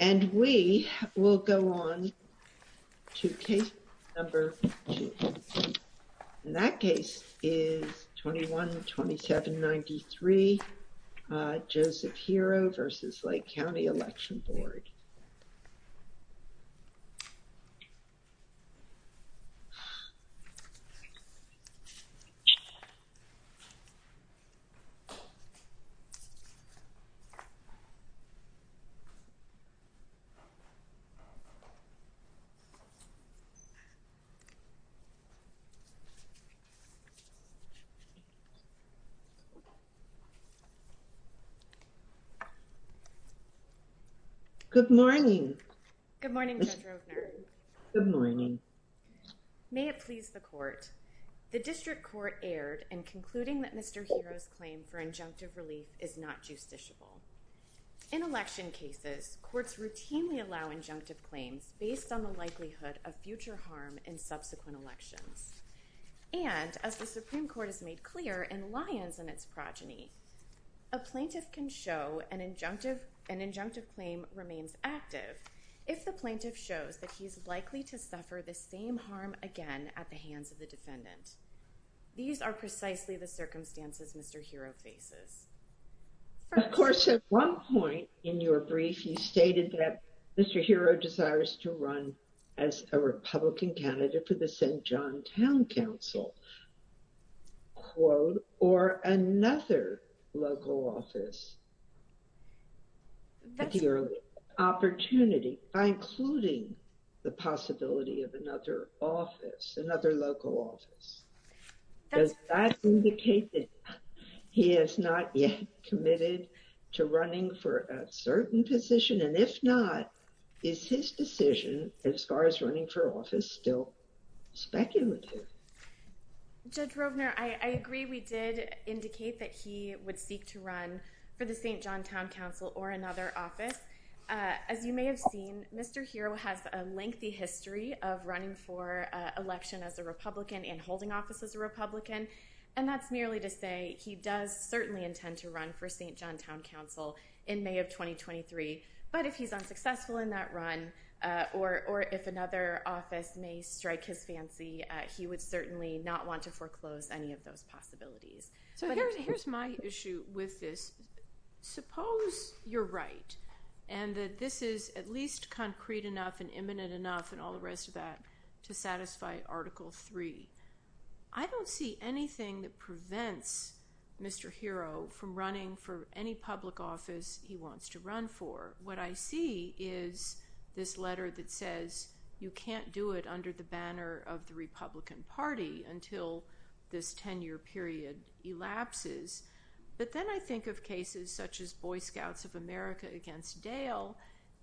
and we will go on to case number two. In that case is 21-2793 Joseph Hero v. Lake County Election Board. Good morning. Good morning Judge Roebner. Good morning. May it please the court. The district court erred in concluding that Mr. Hero's claim for injunctive relief is not justiciable. In election cases, courts routinely allow injunctive claims based on the likelihood of future harm in subsequent elections. And as the Supreme Court has made clear in Lyons and its progeny, a plaintiff can show an injunctive claim remains active if the plaintiff shows that he's likely to suffer the same harm again at the hands of the defendant. These are precisely the circumstances Mr. Hero faces. Of course at one point in your brief you stated that Mr. Hero desires to run as a Republican candidate for the St. John Town Council or another local office. That's your opportunity by including the possibility of another office, another local office. Does that indicate that he is not yet committed to running for a certain position? And if not, is his decision as far as running for office still speculative? Judge Roebner, I agree we did indicate that he would seek to run for the St. John Town Council or another office. As you may have seen, Mr. Hero has a lengthy history of running for election as a Republican and holding office as a Republican. And that's merely to say he does certainly intend to run for St. John Town Council in May of 2023. But if he's unsuccessful in that run or if another office may strike his fancy, he would certainly not want to foreclose any of those possibilities. So here's my issue with this. Suppose you're right and that this is at least concrete enough and imminent enough and all the rest of that to satisfy Article 3. I don't see anything that prevents Mr. Hero from running for any public office he wants to run for. What I see is this letter that says you can't do it I think of cases such as Boy Scouts of America against Dale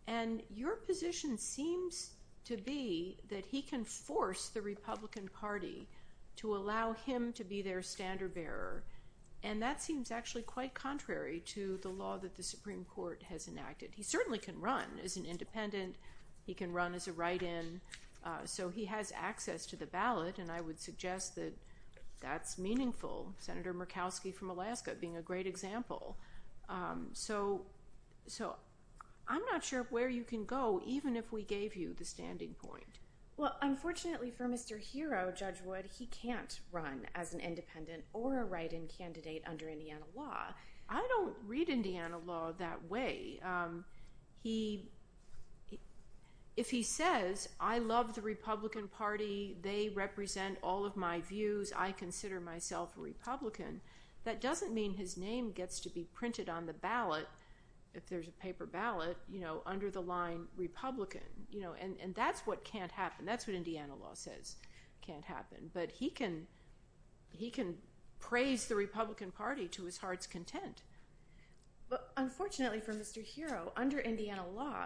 and your position seems to be that he can force the Republican Party to allow him to be their standard bearer. And that seems actually quite contrary to the law that the Supreme Court has enacted. He certainly can run as an independent, he can run as a write-in, so he has access to the ballot. And I would suggest that that's Murkowski from Alaska being a great example. So I'm not sure where you can go even if we gave you the standing point. Well unfortunately for Mr. Hero, Judge Wood, he can't run as an independent or a write-in candidate under Indiana law. I don't read Indiana law that way. If he says, I love the Republican Party, they represent all of my views, I consider myself a Republican, that doesn't mean his name gets to be printed on the ballot, if there's a paper ballot, you know, under the line Republican. And that's what can't happen, that's what Indiana law says can't happen. But he can praise the Republican Party to his heart's content. But unfortunately for Mr. Hero, under Indiana law,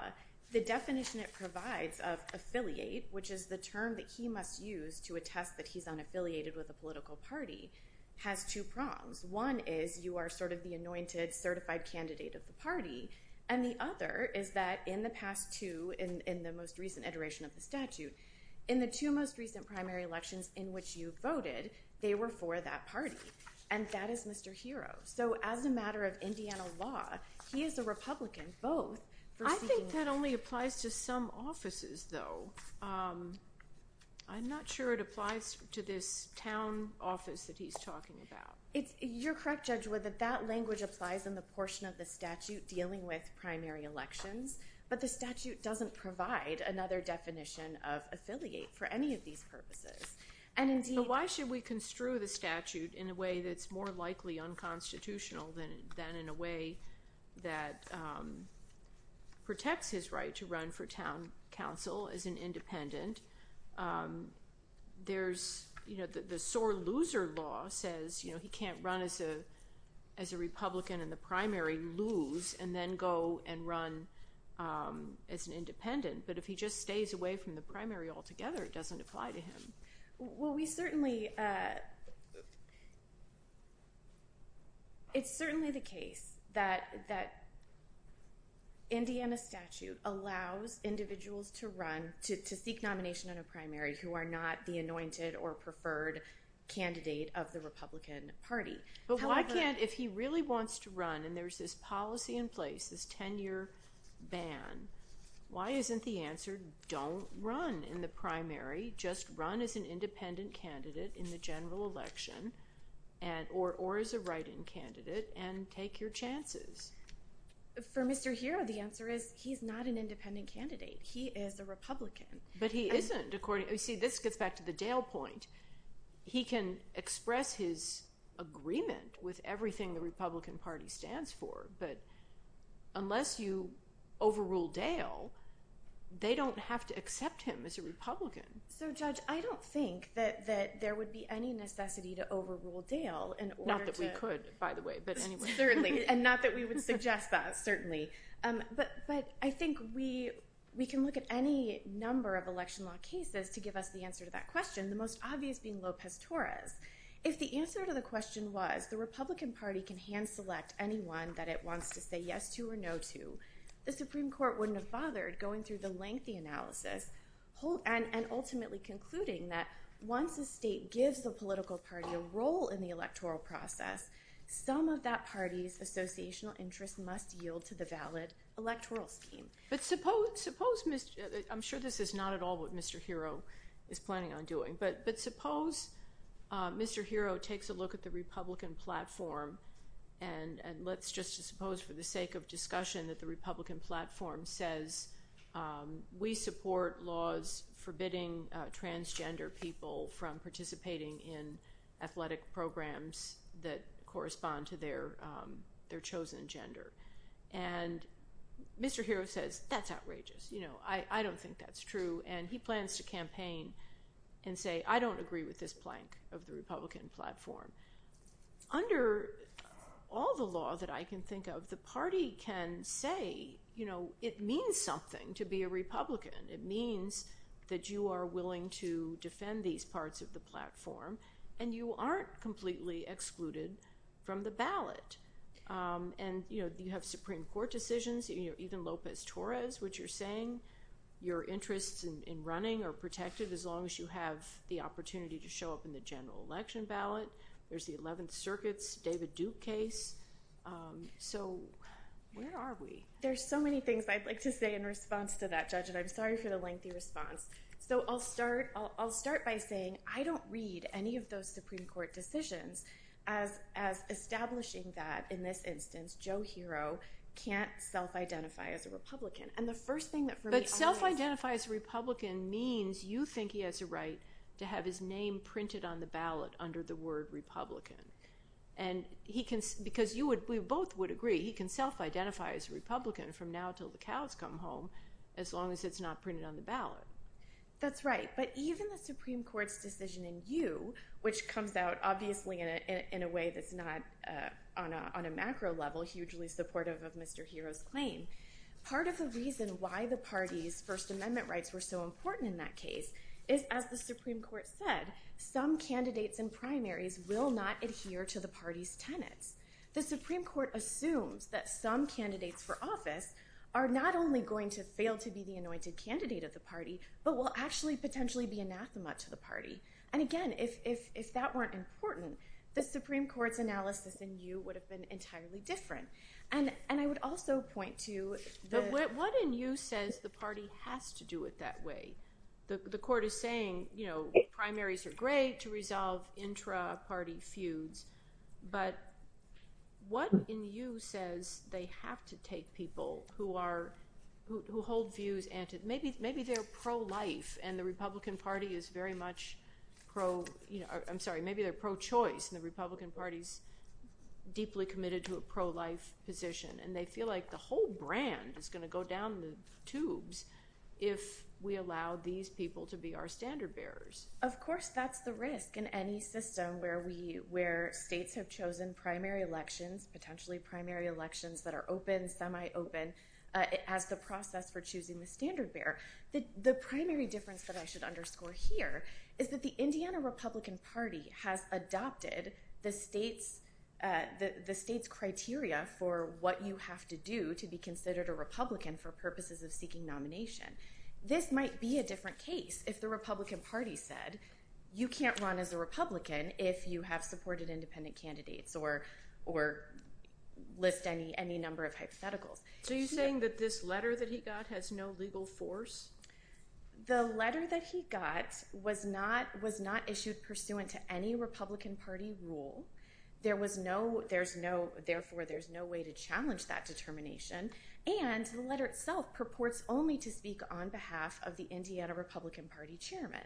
the definition it provides of affiliate, which is the term that he must use to attest that he's unaffiliated with a political party, has two prongs. One is you are sort of the anointed certified candidate of the party, and the other is that in the past two, in the most recent iteration of the statute, in the two most recent primary elections in which you voted, they were for that party. And that is Mr. Hero. So as a matter of Indiana law, he is a Republican, I think that only applies to some offices, though. I'm not sure it applies to this town office that he's talking about. You're correct, Judge Wood, that that language applies in the portion of the statute dealing with primary elections, but the statute doesn't provide another definition of affiliate for any of these purposes. But why should we construe the statute in a way that's more likely unconstitutional than in a way that protects his right to run for town council as an independent? There's, you know, the sore loser law says, you know, he can't run as a Republican in the primary, lose, and then go and run as an independent. But if he just stays away from the primary altogether, it doesn't apply to him. Well, we certainly, it's certainly the case that that Indiana statute allows individuals to run, to seek nomination in a primary, who are not the anointed or preferred candidate of the Republican Party. But why can't, if he really wants to run and there's this policy in place, this 10-year ban, why isn't the answer, don't run in the primary, just run as an independent candidate in the general election, or as a write-in candidate, and take your chances? For Mr. Hero, the answer is, he's not an independent candidate. He is a Republican. But he isn't, according, see, this gets back to the Dale point. He can express his agreement with everything the overrule Dale. They don't have to accept him as a Republican. So, Judge, I don't think that there would be any necessity to overrule Dale. Not that we could, by the way, but anyway. Certainly, and not that we would suggest that, certainly. But I think we can look at any number of election law cases to give us the answer to that question, the most obvious being Lopez Torres. If the answer to the question was, the Republican Party can hand-select anyone that it wants to say yes to or no to, the Supreme Court wouldn't have bothered going through the lengthy analysis, and ultimately concluding that once a state gives the political party a role in the electoral process, some of that party's associational interests must yield to the valid electoral scheme. But suppose, I'm sure this is not at all what Mr. Hero is planning on doing, but suppose Mr. Hero takes a look at the Republican platform, and let's just suppose for the sake of discussion that the Republican platform says, we support laws forbidding transgender people from participating in athletic programs that correspond to their chosen gender. And Mr. Hero says, that's outrageous. You know, I don't think that's true. And he plans to campaign and say, I don't agree with this plank of the Republican platform. Under all the law that I can think of, the party can say, you know, it means something to be a Republican. It means that you are willing to defend these parts of the platform, and you aren't completely excluded from the ballot. And, you know, you have Supreme Court decisions, even Lopez Torres, which you're saying your interests in running are protected as long as you have the opportunity to show up in the general election ballot. There's the 11th Circuit's David Duke case. So, where are we? There's so many things I'd like to say in response to that, Judge, and I'm sorry for the lengthy response. So, I'll start by saying, I don't read any of those Supreme Court decisions as establishing that, in this instance, Joe Hero can't self-identify as a Republican. And the first thing that for me... But self-identify as a Republican means you think he has a right to have his name printed on the ballot under the word Republican. And he can, because you would, we both would agree, he can self-identify as a Republican from now till the cows come home, as long as it's not printed on the ballot. That's right. But even the Supreme Court's decision in you, which comes out, obviously, in a way that's not on a macro level, hugely supportive of Mr. Hero's claim. Part of the reason why the party's amendment rights were so important in that case is, as the Supreme Court said, some candidates and primaries will not adhere to the party's tenets. The Supreme Court assumes that some candidates for office are not only going to fail to be the anointed candidate of the party, but will actually, potentially, be anathema to the party. And again, if that weren't important, the Supreme Court's analysis in you would have been entirely different. And I would also point to... What in you says the party has to do it that way? The court is saying, you know, primaries are great to resolve intra-party feuds, but what in you says they have to take people who are, who hold views and maybe they're pro-life, and the Republican Party is very much pro, you know, I'm sorry, maybe they're pro-choice, and the Republican Party's deeply committed to a pro-life position, and they feel like the whole brand is going to go down the tubes if we allow these people to be our standard bearers. Of course, that's the risk in any system where we, where states have chosen primary elections, potentially primary elections that are open, semi-open, as the process for choosing the standard bearer. The primary difference that I should underscore here is that the Indiana to be considered a Republican for purposes of seeking nomination. This might be a different case if the Republican Party said, you can't run as a Republican if you have supported independent candidates or, or list any, any number of hypotheticals. So you're saying that this letter that he got has no legal force? The letter that he got was not, was not issued pursuant to any Republican Party rule. There was no, there's no, therefore there's no way to challenge that determination, and the letter itself purports only to speak on behalf of the Indiana Republican Party chairman.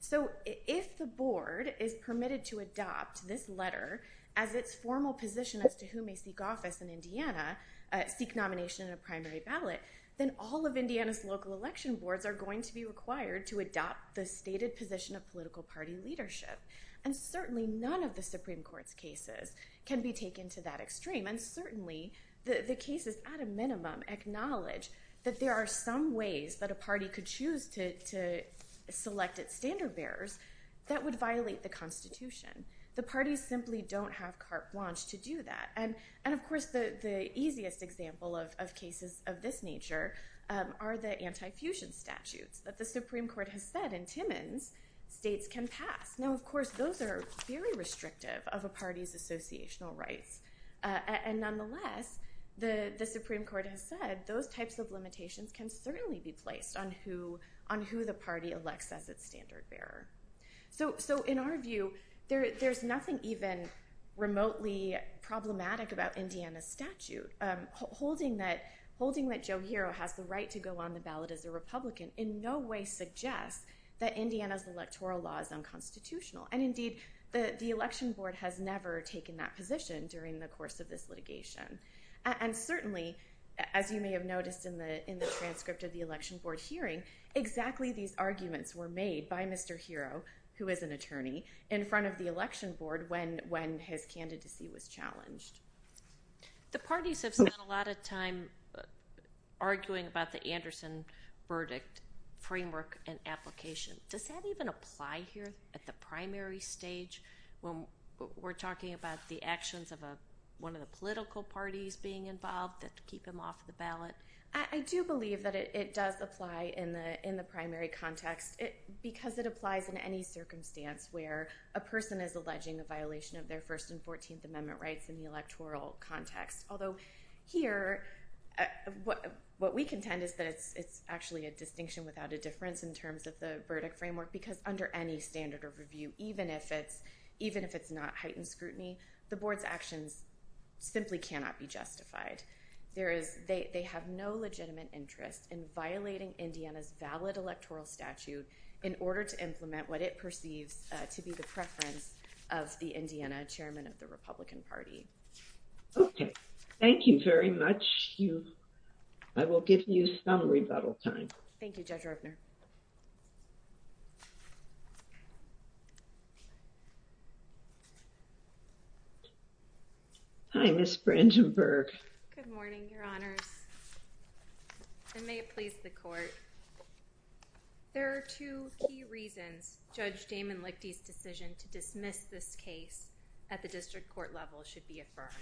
So if the board is permitted to adopt this letter as its formal position as to who may seek office in Indiana, seek nomination in a primary ballot, then all of Indiana's local election boards are going to be required to adopt the stated position of political party leadership. And certainly none of the Supreme Court's cases can be taken to that extreme, and certainly the, the cases at a minimum acknowledge that there are some ways that a party could choose to, to select its standard bearers that would violate the Constitution. The parties simply don't have carte blanche to do that. And, and of course the, the easiest example of, of cases of this nature are the anti-fusion statutes that the Supreme Court has said in Timmins states can pass. Now of course those are very restrictive of a party's associational rights, and nonetheless the, the Supreme Court has said those types of limitations can certainly be placed on who, on who the party elects as its standard bearer. So, so in our view there, there's nothing even remotely problematic about Indiana's statute. Holding that, holding that Joe Hero has the right to go on the ballot as a Republican in no way suggests that Indiana's electoral law is unconstitutional, and indeed the, the election board has never taken that position during the course of this litigation. And certainly as you may have noticed in the, in the transcript of the election board hearing, exactly these arguments were made by Mr. Hero, who is an attorney, in front of the election board when, when his candidacy was challenged. The parties have spent a lot of time arguing about the Anderson verdict framework and application. Does that even apply here at the primary stage when we're talking about the actions of a, one of the political parties being involved to keep him off the ballot? I do believe that it does apply in the, in the primary context. It, because it applies in any circumstance where a person is alleging a violation of their First and Fourteenth Amendment rights in the electoral context. Although here, what, what we contend is that it's, it's actually a distinction without a difference in terms of the verdict framework, because under any standard of review, even if it's, even if it's not heightened scrutiny, the board's actions simply cannot be justified. There is, they, they have no legitimate interest in violating Indiana's valid electoral statute in order to implement what it perceives to be the preference of the Indiana chairman of the Republican Party. Okay. Thank you very much. You, I will give you some rebuttal time. Thank you, Judge Rupner. Hi, Ms. Brandenburg. Good morning, Your Honors, and may it please the court. There are two key reasons Judge Damon Lichte's decision to dismiss this case at the district court level should be affirmed.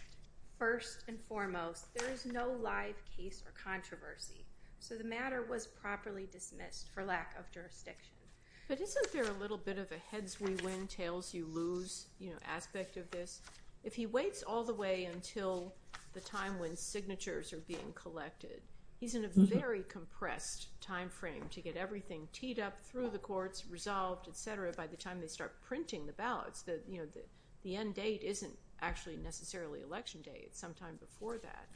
First and foremost, there is no live case or controversy, so the matter was properly dismissed for lack of jurisdiction. But isn't there a little bit of a heads-we-win, tails-you-lose, you know, aspect of this? If he waits all the way until the time when signatures are being collected, he's in a very compressed time frame to get everything teed up through the courts, resolved, etc., by the time they start printing the ballots. The, you know, the end date isn't actually necessarily election day. It's sometime before that.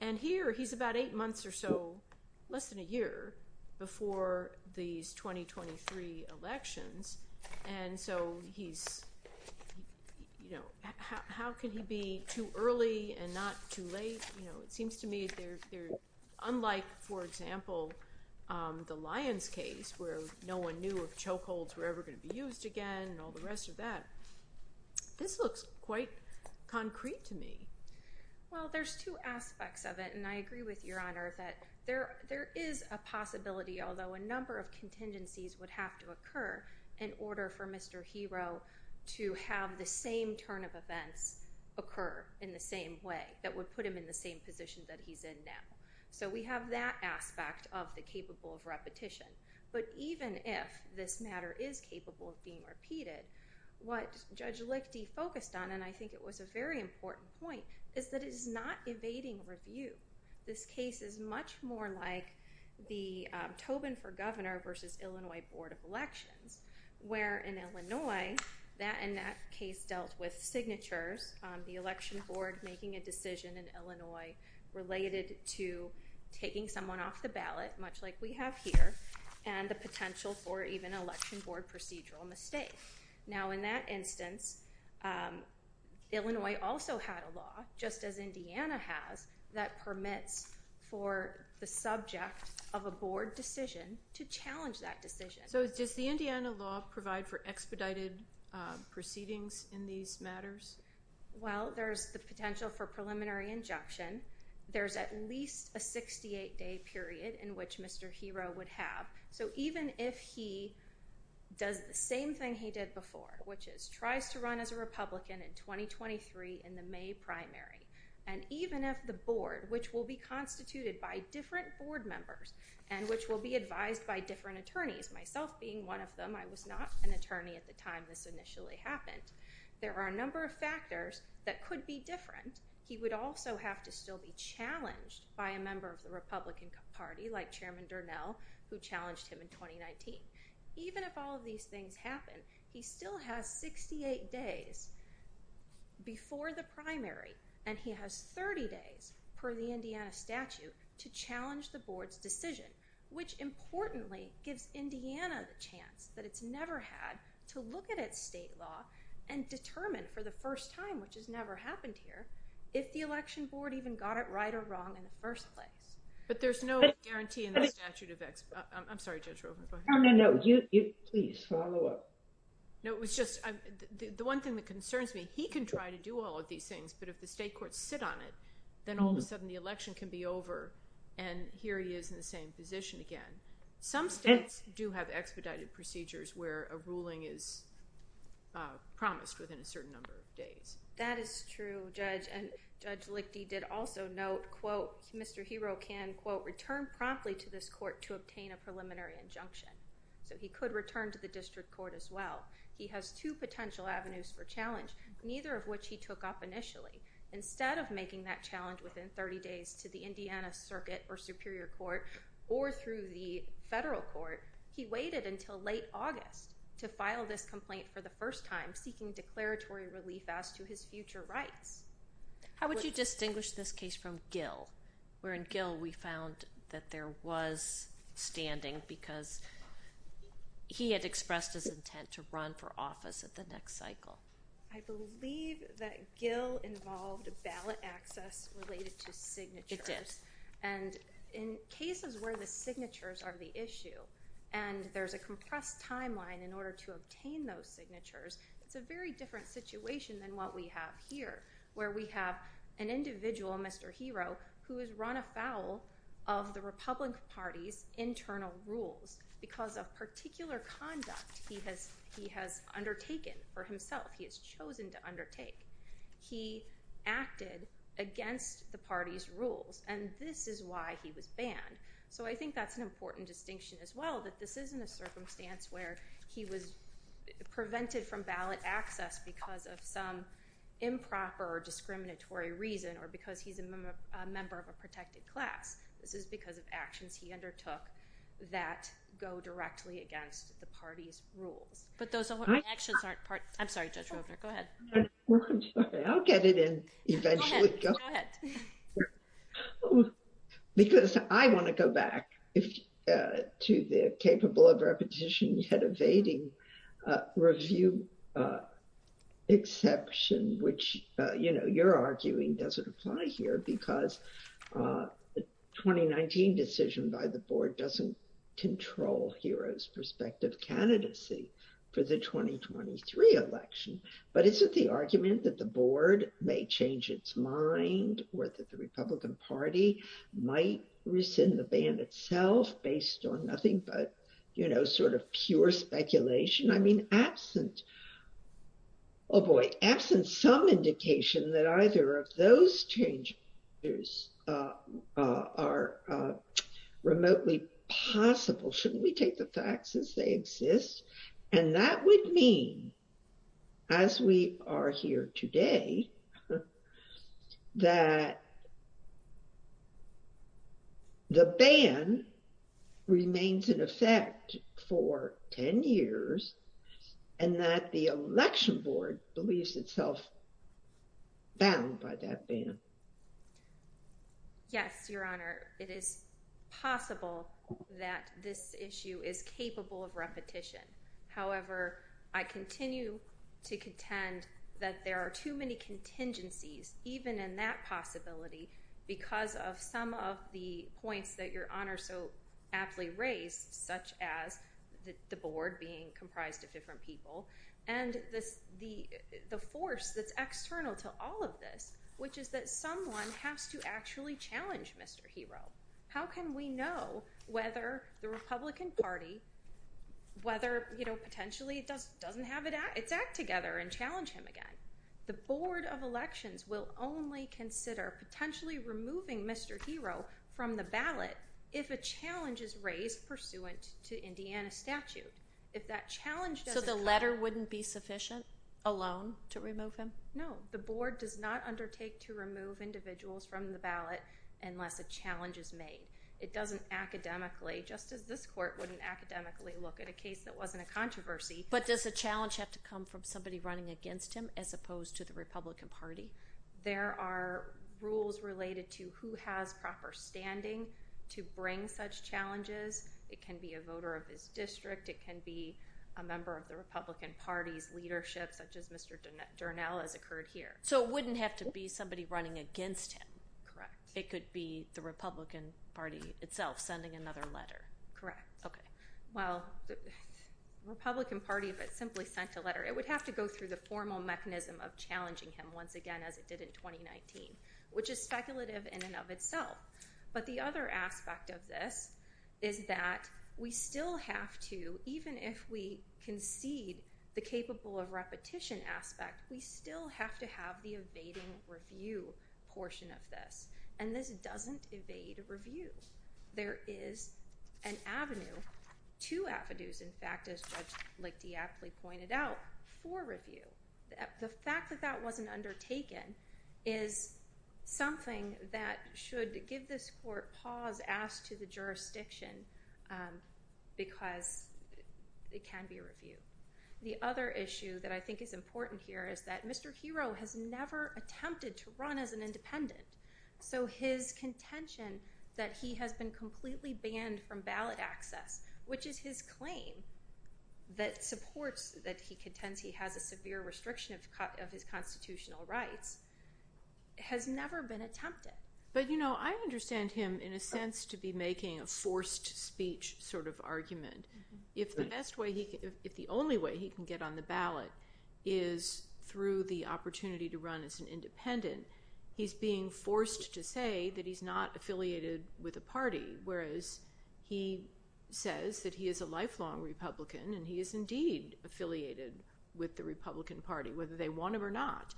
And here, he's about eight months or so, less than a year before these 2023 elections, and so he's, you know, how can he be too early and not too late? You know, it seems to me they're unlike, for example, the Lyons case, where no one knew if chokeholds were ever going to be used again and all the rest of that. This looks quite concrete to me. Well, there's two aspects of it, and I agree with Your Honor that there is a possibility, although a number of contingencies would have to occur in order for that to happen, that would put him in the same position that he's in now. So we have that aspect of the capable of repetition. But even if this matter is capable of being repeated, what Judge Lichte focused on, and I think it was a very important point, is that it is not evading review. This case is much more like the Tobin for Governor versus Illinois Board of Elections, where in a decision in Illinois related to taking someone off the ballot, much like we have here, and the potential for even an election board procedural mistake. Now in that instance, Illinois also had a law, just as Indiana has, that permits for the subject of a board decision to challenge that decision. So does the Indiana law provide for expedited proceedings in these matters? Well, there's the potential for preliminary injunction. There's at least a 68-day period in which Mr. Hero would have. So even if he does the same thing he did before, which is tries to run as a Republican in 2023 in the May primary, and even if the board, which will be constituted by different board members, and which will be advised by different attorneys, myself being one of them, I was not an attorney at the time this initially happened, there are a number of factors that could be different. He would also have to still be challenged by a member of the Republican Party, like Chairman Durnell, who challenged him in 2019. Even if all of these things happen, he still has 68 days before the primary, and he has 30 days per the Indiana statute to challenge the board's decision, which importantly gives Indiana the chance that it's never had to look at its state law and determine for the first time, which has never happened here, if the election board even got it right or wrong in the first place. But there's no guarantee in the statute of expedited... I'm sorry Judge Roe, go ahead. No, no, no, you, you, please follow up. No, it was just, the one thing that concerns me, he can try to do all of these things, but if the state courts sit on it, then all of a sudden he's in the same position again. Some states do have expedited procedures where a ruling is promised within a certain number of days. That is true, Judge, and Judge Lichty did also note, quote, Mr. Hero can, quote, return promptly to this court to obtain a preliminary injunction. So he could return to the district court as well. He has two potential avenues for challenge, neither of which he took up initially. Instead of making that challenge within 30 days to the district court or through the federal court, he waited until late August to file this complaint for the first time, seeking declaratory relief as to his future rights. How would you distinguish this case from Gill, where in Gill we found that there was standing because he had expressed his intent to run for office at the next cycle? I believe that Gill involved ballot access related to signatures. It did. And in cases where the signatures are the issue and there's a compressed timeline in order to obtain those signatures, it's a very different situation than what we have here, where we have an individual, Mr. Hero, who has run afoul of the Republican Party's internal rules because of particular conduct he has undertaken for himself, he has chosen to undertake. He acted against the party's rules, and this is why he was banned. So I think that's an important distinction as well, that this isn't a circumstance where he was prevented from ballot access because of some improper or discriminatory reason or because he's a member of a protected class. This is because of actions he undertook that go directly against the party's rules. But those I'll get it in eventually. Because I want to go back to the capable of repetition yet evading review exception, which, you know, you're arguing doesn't apply here because the 2019 decision by the board doesn't control Hero's prospective candidacy for the 2023 election. But is it the argument that the board may change its mind or that the Republican Party might rescind the ban itself based on nothing but, you know, sort of pure speculation? I mean, absent, oh boy, absent some indication that either of those changes are remotely possible, shouldn't we take the facts as they exist? And that would mean, as we are here today, that the ban remains in effect for 10 years, and that the election board believes itself bound by that ban. Yes, Your Honor, it is possible that this issue is capable of repetition. However, I continue to contend that there are too many contingencies, even in that possibility, because of some of the points that Your Honor so aptly raised, such as the board being comprised of different people, and the force that's external to all of this, which is that someone has to actually challenge Mr. Hero. How can we know whether the Republican Party, whether, you know, potentially it doesn't have its act together and challenge him again? The board of elections will only consider potentially removing Mr. Hero from the ballot if a challenge is raised pursuant to Indiana statute. So the letter wouldn't be sufficient alone to remove him? No, the board does not undertake to remove individuals from the ballot unless a challenge is made. It doesn't academically, just as this court wouldn't academically look at a case that wasn't a controversy. But does a challenge have to come from somebody running against him as opposed to the Republican Party? There are rules related to who has proper standing to bring such challenges. It can be a voter of his district. It can be a member of the Republican Party's leadership, such as Mr. Durnel has occurred here. So it wouldn't have to be somebody running against him? Correct. It could be the Republican Party itself sending another letter? Correct. Okay. Well, the Republican Party, if it simply sent a letter, it would have to go through the formal mechanism of challenging him as it did in 2019, which is speculative in and of itself. But the other aspect of this is that we still have to, even if we concede the capable of repetition aspect, we still have to have the evading review portion of this. And this doesn't evade review. There is an avenue, two avenues, in fact, as Judge Lakey aptly pointed out, for review. The fact that that wasn't undertaken is something that should give this court pause, ask to the jurisdiction because it can be reviewed. The other issue that I think is important here is that Mr. Hero has never attempted to run as an independent. So his contention that he has been completely banned from ballot access, which is his claim that supports that he contends he has a severe restriction of his constitutional rights, has never been attempted. But you know, I understand him in a sense to be making a forced speech sort of argument. If the best way, if the only way he can get on the ballot is through the opportunity to run as an independent, he's being forced to say that he's not affiliated with a party. He says that he is a lifelong Republican and he is indeed affiliated with the Republican Party, whether they want him or not.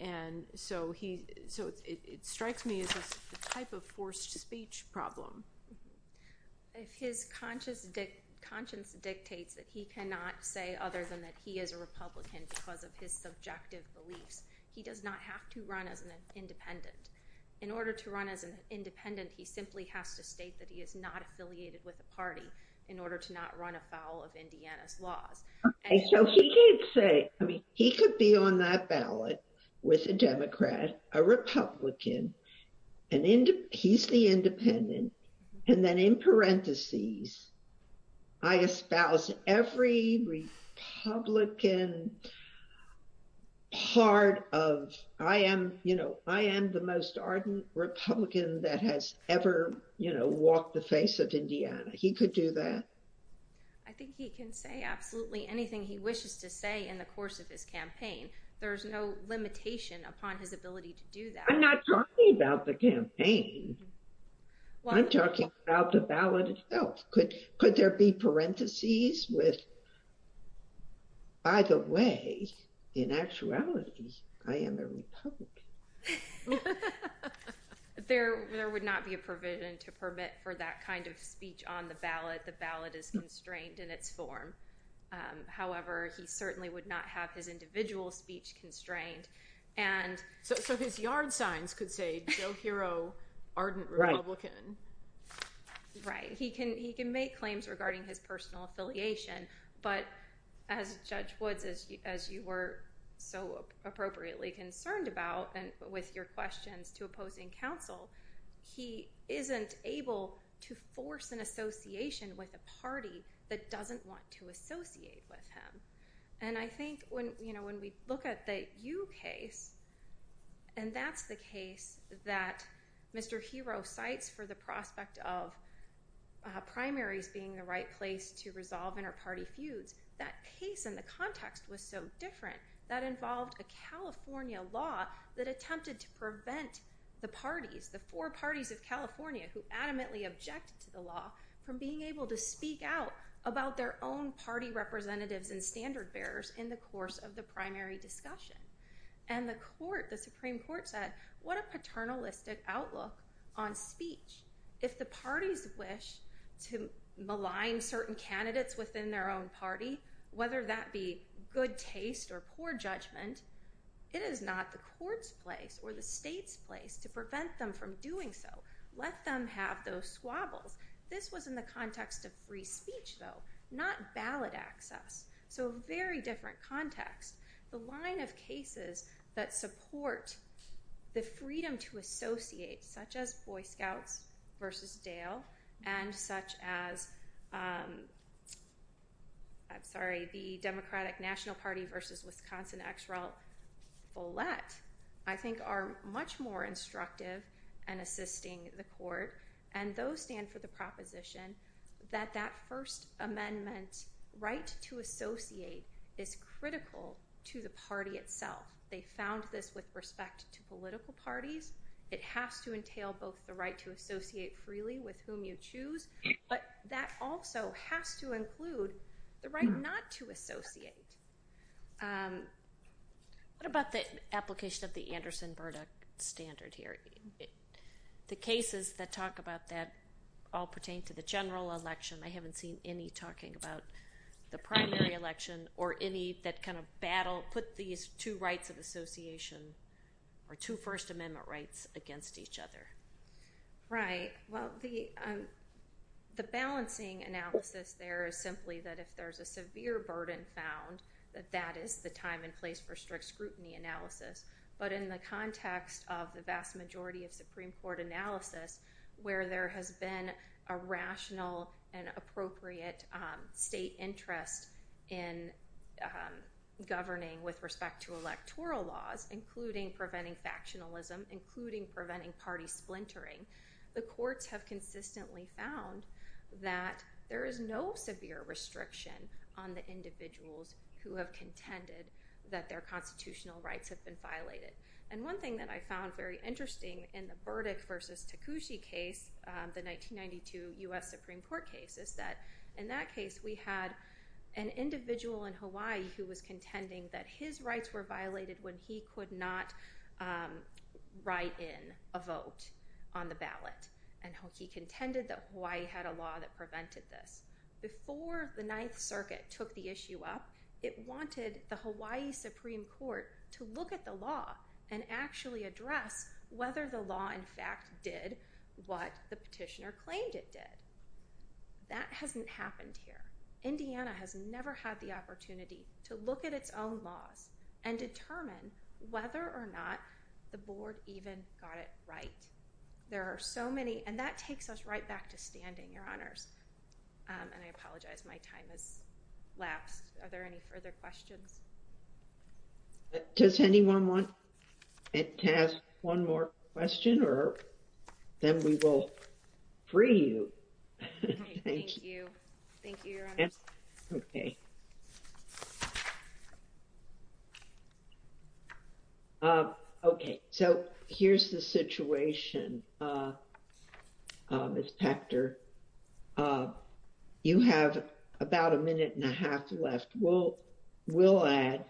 And so it strikes me as a type of forced speech problem. If his conscience dictates that he cannot say other than that he is a Republican because of his subjective beliefs, he does not have to run as an independent. In order to run as an independent party, in order to not run afoul of Indiana's laws. So he did say, I mean, he could be on that ballot with a Democrat, a Republican, and he's the independent. And then in parentheses, I espouse every Republican part of, I am, you know, I am the most ardent Republican that has ever, you know, walked the face of Indiana. He could do that. I think he can say absolutely anything he wishes to say in the course of his campaign. There's no limitation upon his ability to do that. I'm not talking about the campaign. I'm talking about the ballot itself. Could there be parentheses with, by the way, in actuality, I am a Republican. There would not be a provision to permit for that kind of speech on the ballot. The ballot is constrained in its form. However, he certainly would not have his individual speech constrained. And so his yard signs could say Joe Hero, ardent Republican. Right. He can make claims regarding his personal affiliation. But as Judge Woods, as you were so appropriately concerned about, and with your questions to opposing counsel, he isn't able to force an association with a party that doesn't want to associate with him. And I think when, you know, when we look at the Yu case, and that's the case that Mr. Hero cites for the prospect of primaries being the right place to resolve inter-party feuds, that case and the context was so different. That involved a California law that attempted to prevent the parties, the four parties of California who adamantly object to the law, from being able to speak out about their own party representatives and standard bearers in the course of the primary discussion. And the court, the Supreme Court said, what a paternalistic outlook on speech. If the parties wish to malign certain candidates within their own party, whether that be good taste or poor judgment, it is not the court's place or the state's place to prevent them from doing so. Let them have those squabbles. This was in the context of free speech, though, not ballot access. So a very different context. The line of cases that support the freedom to associate, such as Boy Scouts v. Dale and such as, I'm sorry, the Democratic National Party v. Wisconsin ex-rel Volette, I think are much more instructive in assisting the court. And those stand for the is critical to the party itself. They found this with respect to political parties. It has to entail both the right to associate freely with whom you choose, but that also has to include the right not to associate. What about the application of the Anderson-Burdick standard here? The cases that talk about that all pertain to the general election. I haven't seen any talking about the primary election or any that kind of battle, put these two rights of association or two First Amendment rights against each other. Right. Well, the balancing analysis there is simply that if there's a severe burden found, that that is the time and place for strict scrutiny analysis. But in the context of the vast majority of Supreme Court analysis, where there has been a rational and appropriate state interest in governing with respect to electoral laws, including preventing factionalism, including preventing party splintering, the courts have consistently found that there is no severe restriction on the individuals who have contended that their constitutional rights have been violated. And one thing that I found very interesting in the 1972 U.S. Supreme Court case is that in that case, we had an individual in Hawaii who was contending that his rights were violated when he could not write in a vote on the ballot. And he contended that Hawaii had a law that prevented this. Before the Ninth Circuit took the issue up, it wanted the Hawaii Supreme Court to look at the law and actually address whether the law in fact did what the petitioner claimed it did. That hasn't happened here. Indiana has never had the opportunity to look at its own laws and determine whether or not the board even got it right. There are so many, and that takes us right back to standing, Your Honors. And I apologize, my time has lapsed. Are there any further questions? Does anyone want to ask one more question, or then we will free you. Thank you. Thank you. Thank you, Your Honors. Okay. Okay, so here's the situation, Ms. Pector. You have about a minute and a half left. We'll add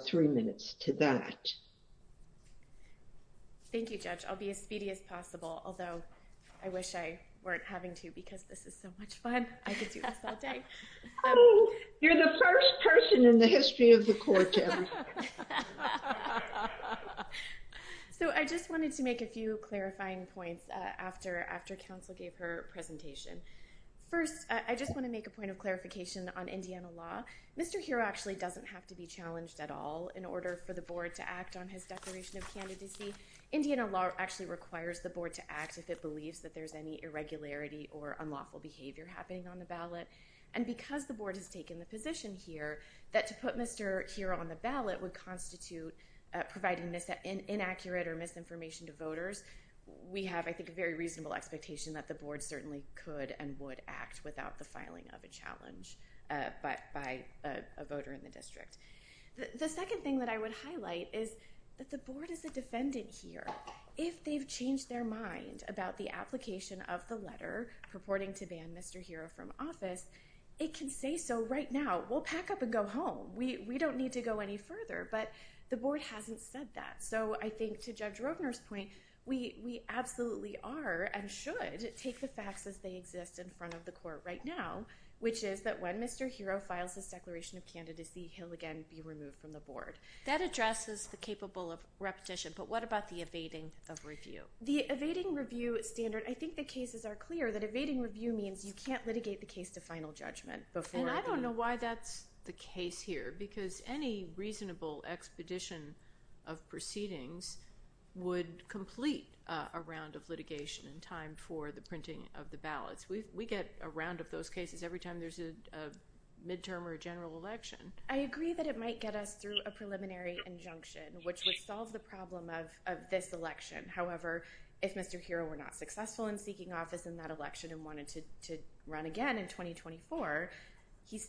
three minutes to that. Thank you, Judge. I'll be as speedy as possible, although I wish I weren't having to, because this is so much fun. I could do this all day. You're the first person in the history of the court ever. So I just wanted to make a few clarifying points after counsel gave her presentation. First, I just want to make a point of clarification on Indiana law. Mr. Hero actually doesn't have to be challenged at all in order for the board to act on his declaration of candidacy. Indiana law actually requires the board to act if it believes that there's any irregularity or unlawful behavior happening on the ballot. And because the board has taken the position here that to put Mr. Hero on the ballot would constitute providing inaccurate or misinformation to voters, we have, I think, a very reasonable expectation that the board certainly could and would act without the filing of a challenge by a voter in the district. The second thing that I would highlight is that the board is a defendant here. If they've changed their mind about the application of the letter purporting to ban Mr. Hero from office, it can say so right now. We'll pack up and go home. We don't need to go any further, but the board hasn't said that. So I think to Judge we absolutely are and should take the facts as they exist in front of the court right now, which is that when Mr. Hero files his declaration of candidacy, he'll again be removed from the board. That addresses the capable of repetition, but what about the evading of review? The evading review standard, I think the cases are clear that evading review means you can't litigate the case to final judgment before. And I don't know why that's the case here because any reasonable expedition of proceedings would complete a round of litigation in time for the printing of the ballots. We get a round of those cases every time there's a midterm or a general election. I agree that it might get us through a preliminary injunction, which would solve the problem of this election. However, if Mr. Hero were not successful in seeking office in that election and wanted to run again in 2024,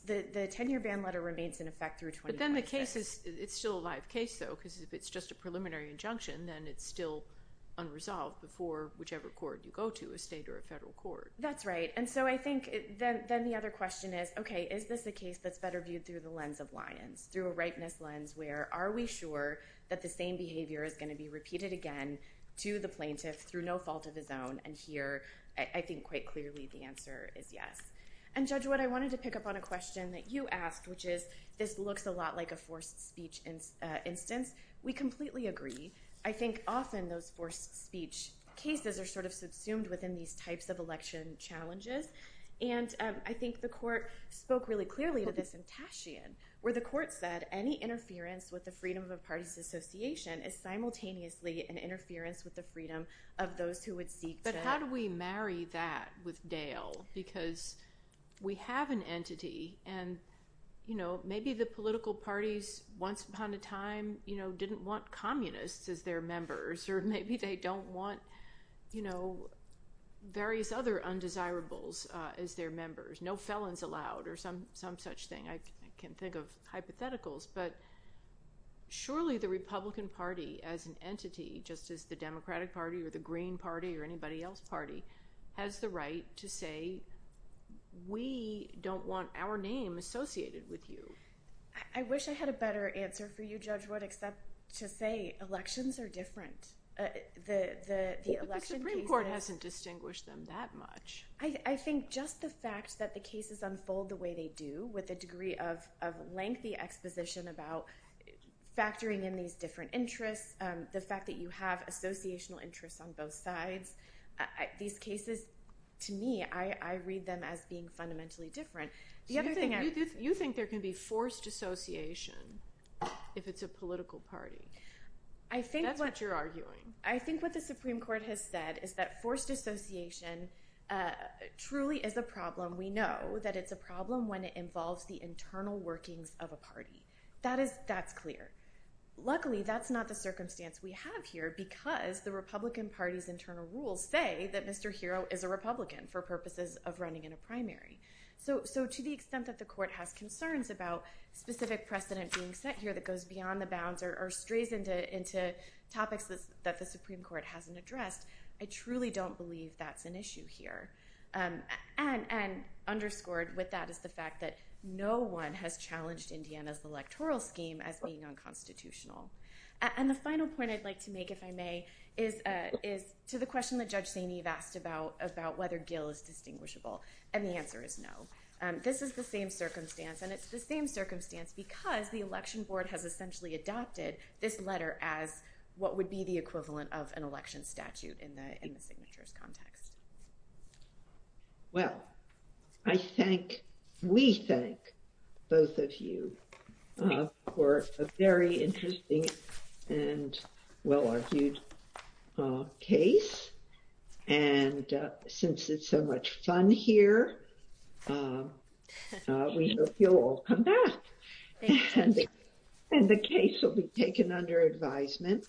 the 10-year ban letter remains in effect through 2026. It's still a live case, though, because if it's just a preliminary injunction, then it's still unresolved before whichever court you go to, a state or a federal court. That's right. And so I think then the other question is, okay, is this a case that's better viewed through the lens of Lyons, through a rightness lens where are we sure that the same behavior is going to be repeated again to the plaintiff through no fault of his own? And here, I think quite clearly the answer is yes. And Judge Wood, I wanted to pick up on a question that you asked, which is this looks a lot like a forced speech instance. We completely agree. I think often those forced speech cases are sort of subsumed within these types of election challenges. And I think the court spoke really clearly to this in Tashian, where the court said any interference with the freedom of a party's association is simultaneously an interference with the freedom of those who would seek to- But how do we marry that with Dale? Because we have an entity and maybe the political parties once upon a time didn't want communists as their members, or maybe they don't want various other undesirables as their members, no felons allowed or some such thing. I can think of hypotheticals, but surely the Republican Party as an entity, just as the Democratic Party or the Green Party or anybody else party, has the right to say we don't want our name associated with you. I wish I had a better answer for you, Judge Wood, except to say elections are different. The election cases- But the Supreme Court hasn't distinguished them that much. I think just the fact that the cases unfold the way they do with a degree of lengthy exposition about factoring in these different interests, the fact that you have being fundamentally different. The other thing- You think there can be forced association if it's a political party. That's what you're arguing. I think what the Supreme Court has said is that forced association truly is a problem. We know that it's a problem when it involves the internal workings of a party. That's clear. Luckily, that's not the circumstance we have here because the Republican Party's internal rules say that Mr. Hero is a Republican for purposes of running in a primary. To the extent that the court has concerns about specific precedent being set here that goes beyond the bounds or strays into topics that the Supreme Court hasn't addressed, I truly don't believe that's an issue here. Underscored with that is the fact that no one has challenged Indiana's electoral scheme as being unconstitutional. The final point I'd like to make, if I may, is to the question that Judge Saini has asked about whether Gill is distinguishable, and the answer is no. This is the same circumstance, and it's the same circumstance because the election board has essentially adopted this letter as what would be the equivalent of an election statute in the signatures context. Well, I thank- We thank both of you for a very interesting and well-argued case, and since it's so much fun here, we hope you'll all come back, and the case will be taken under advisement.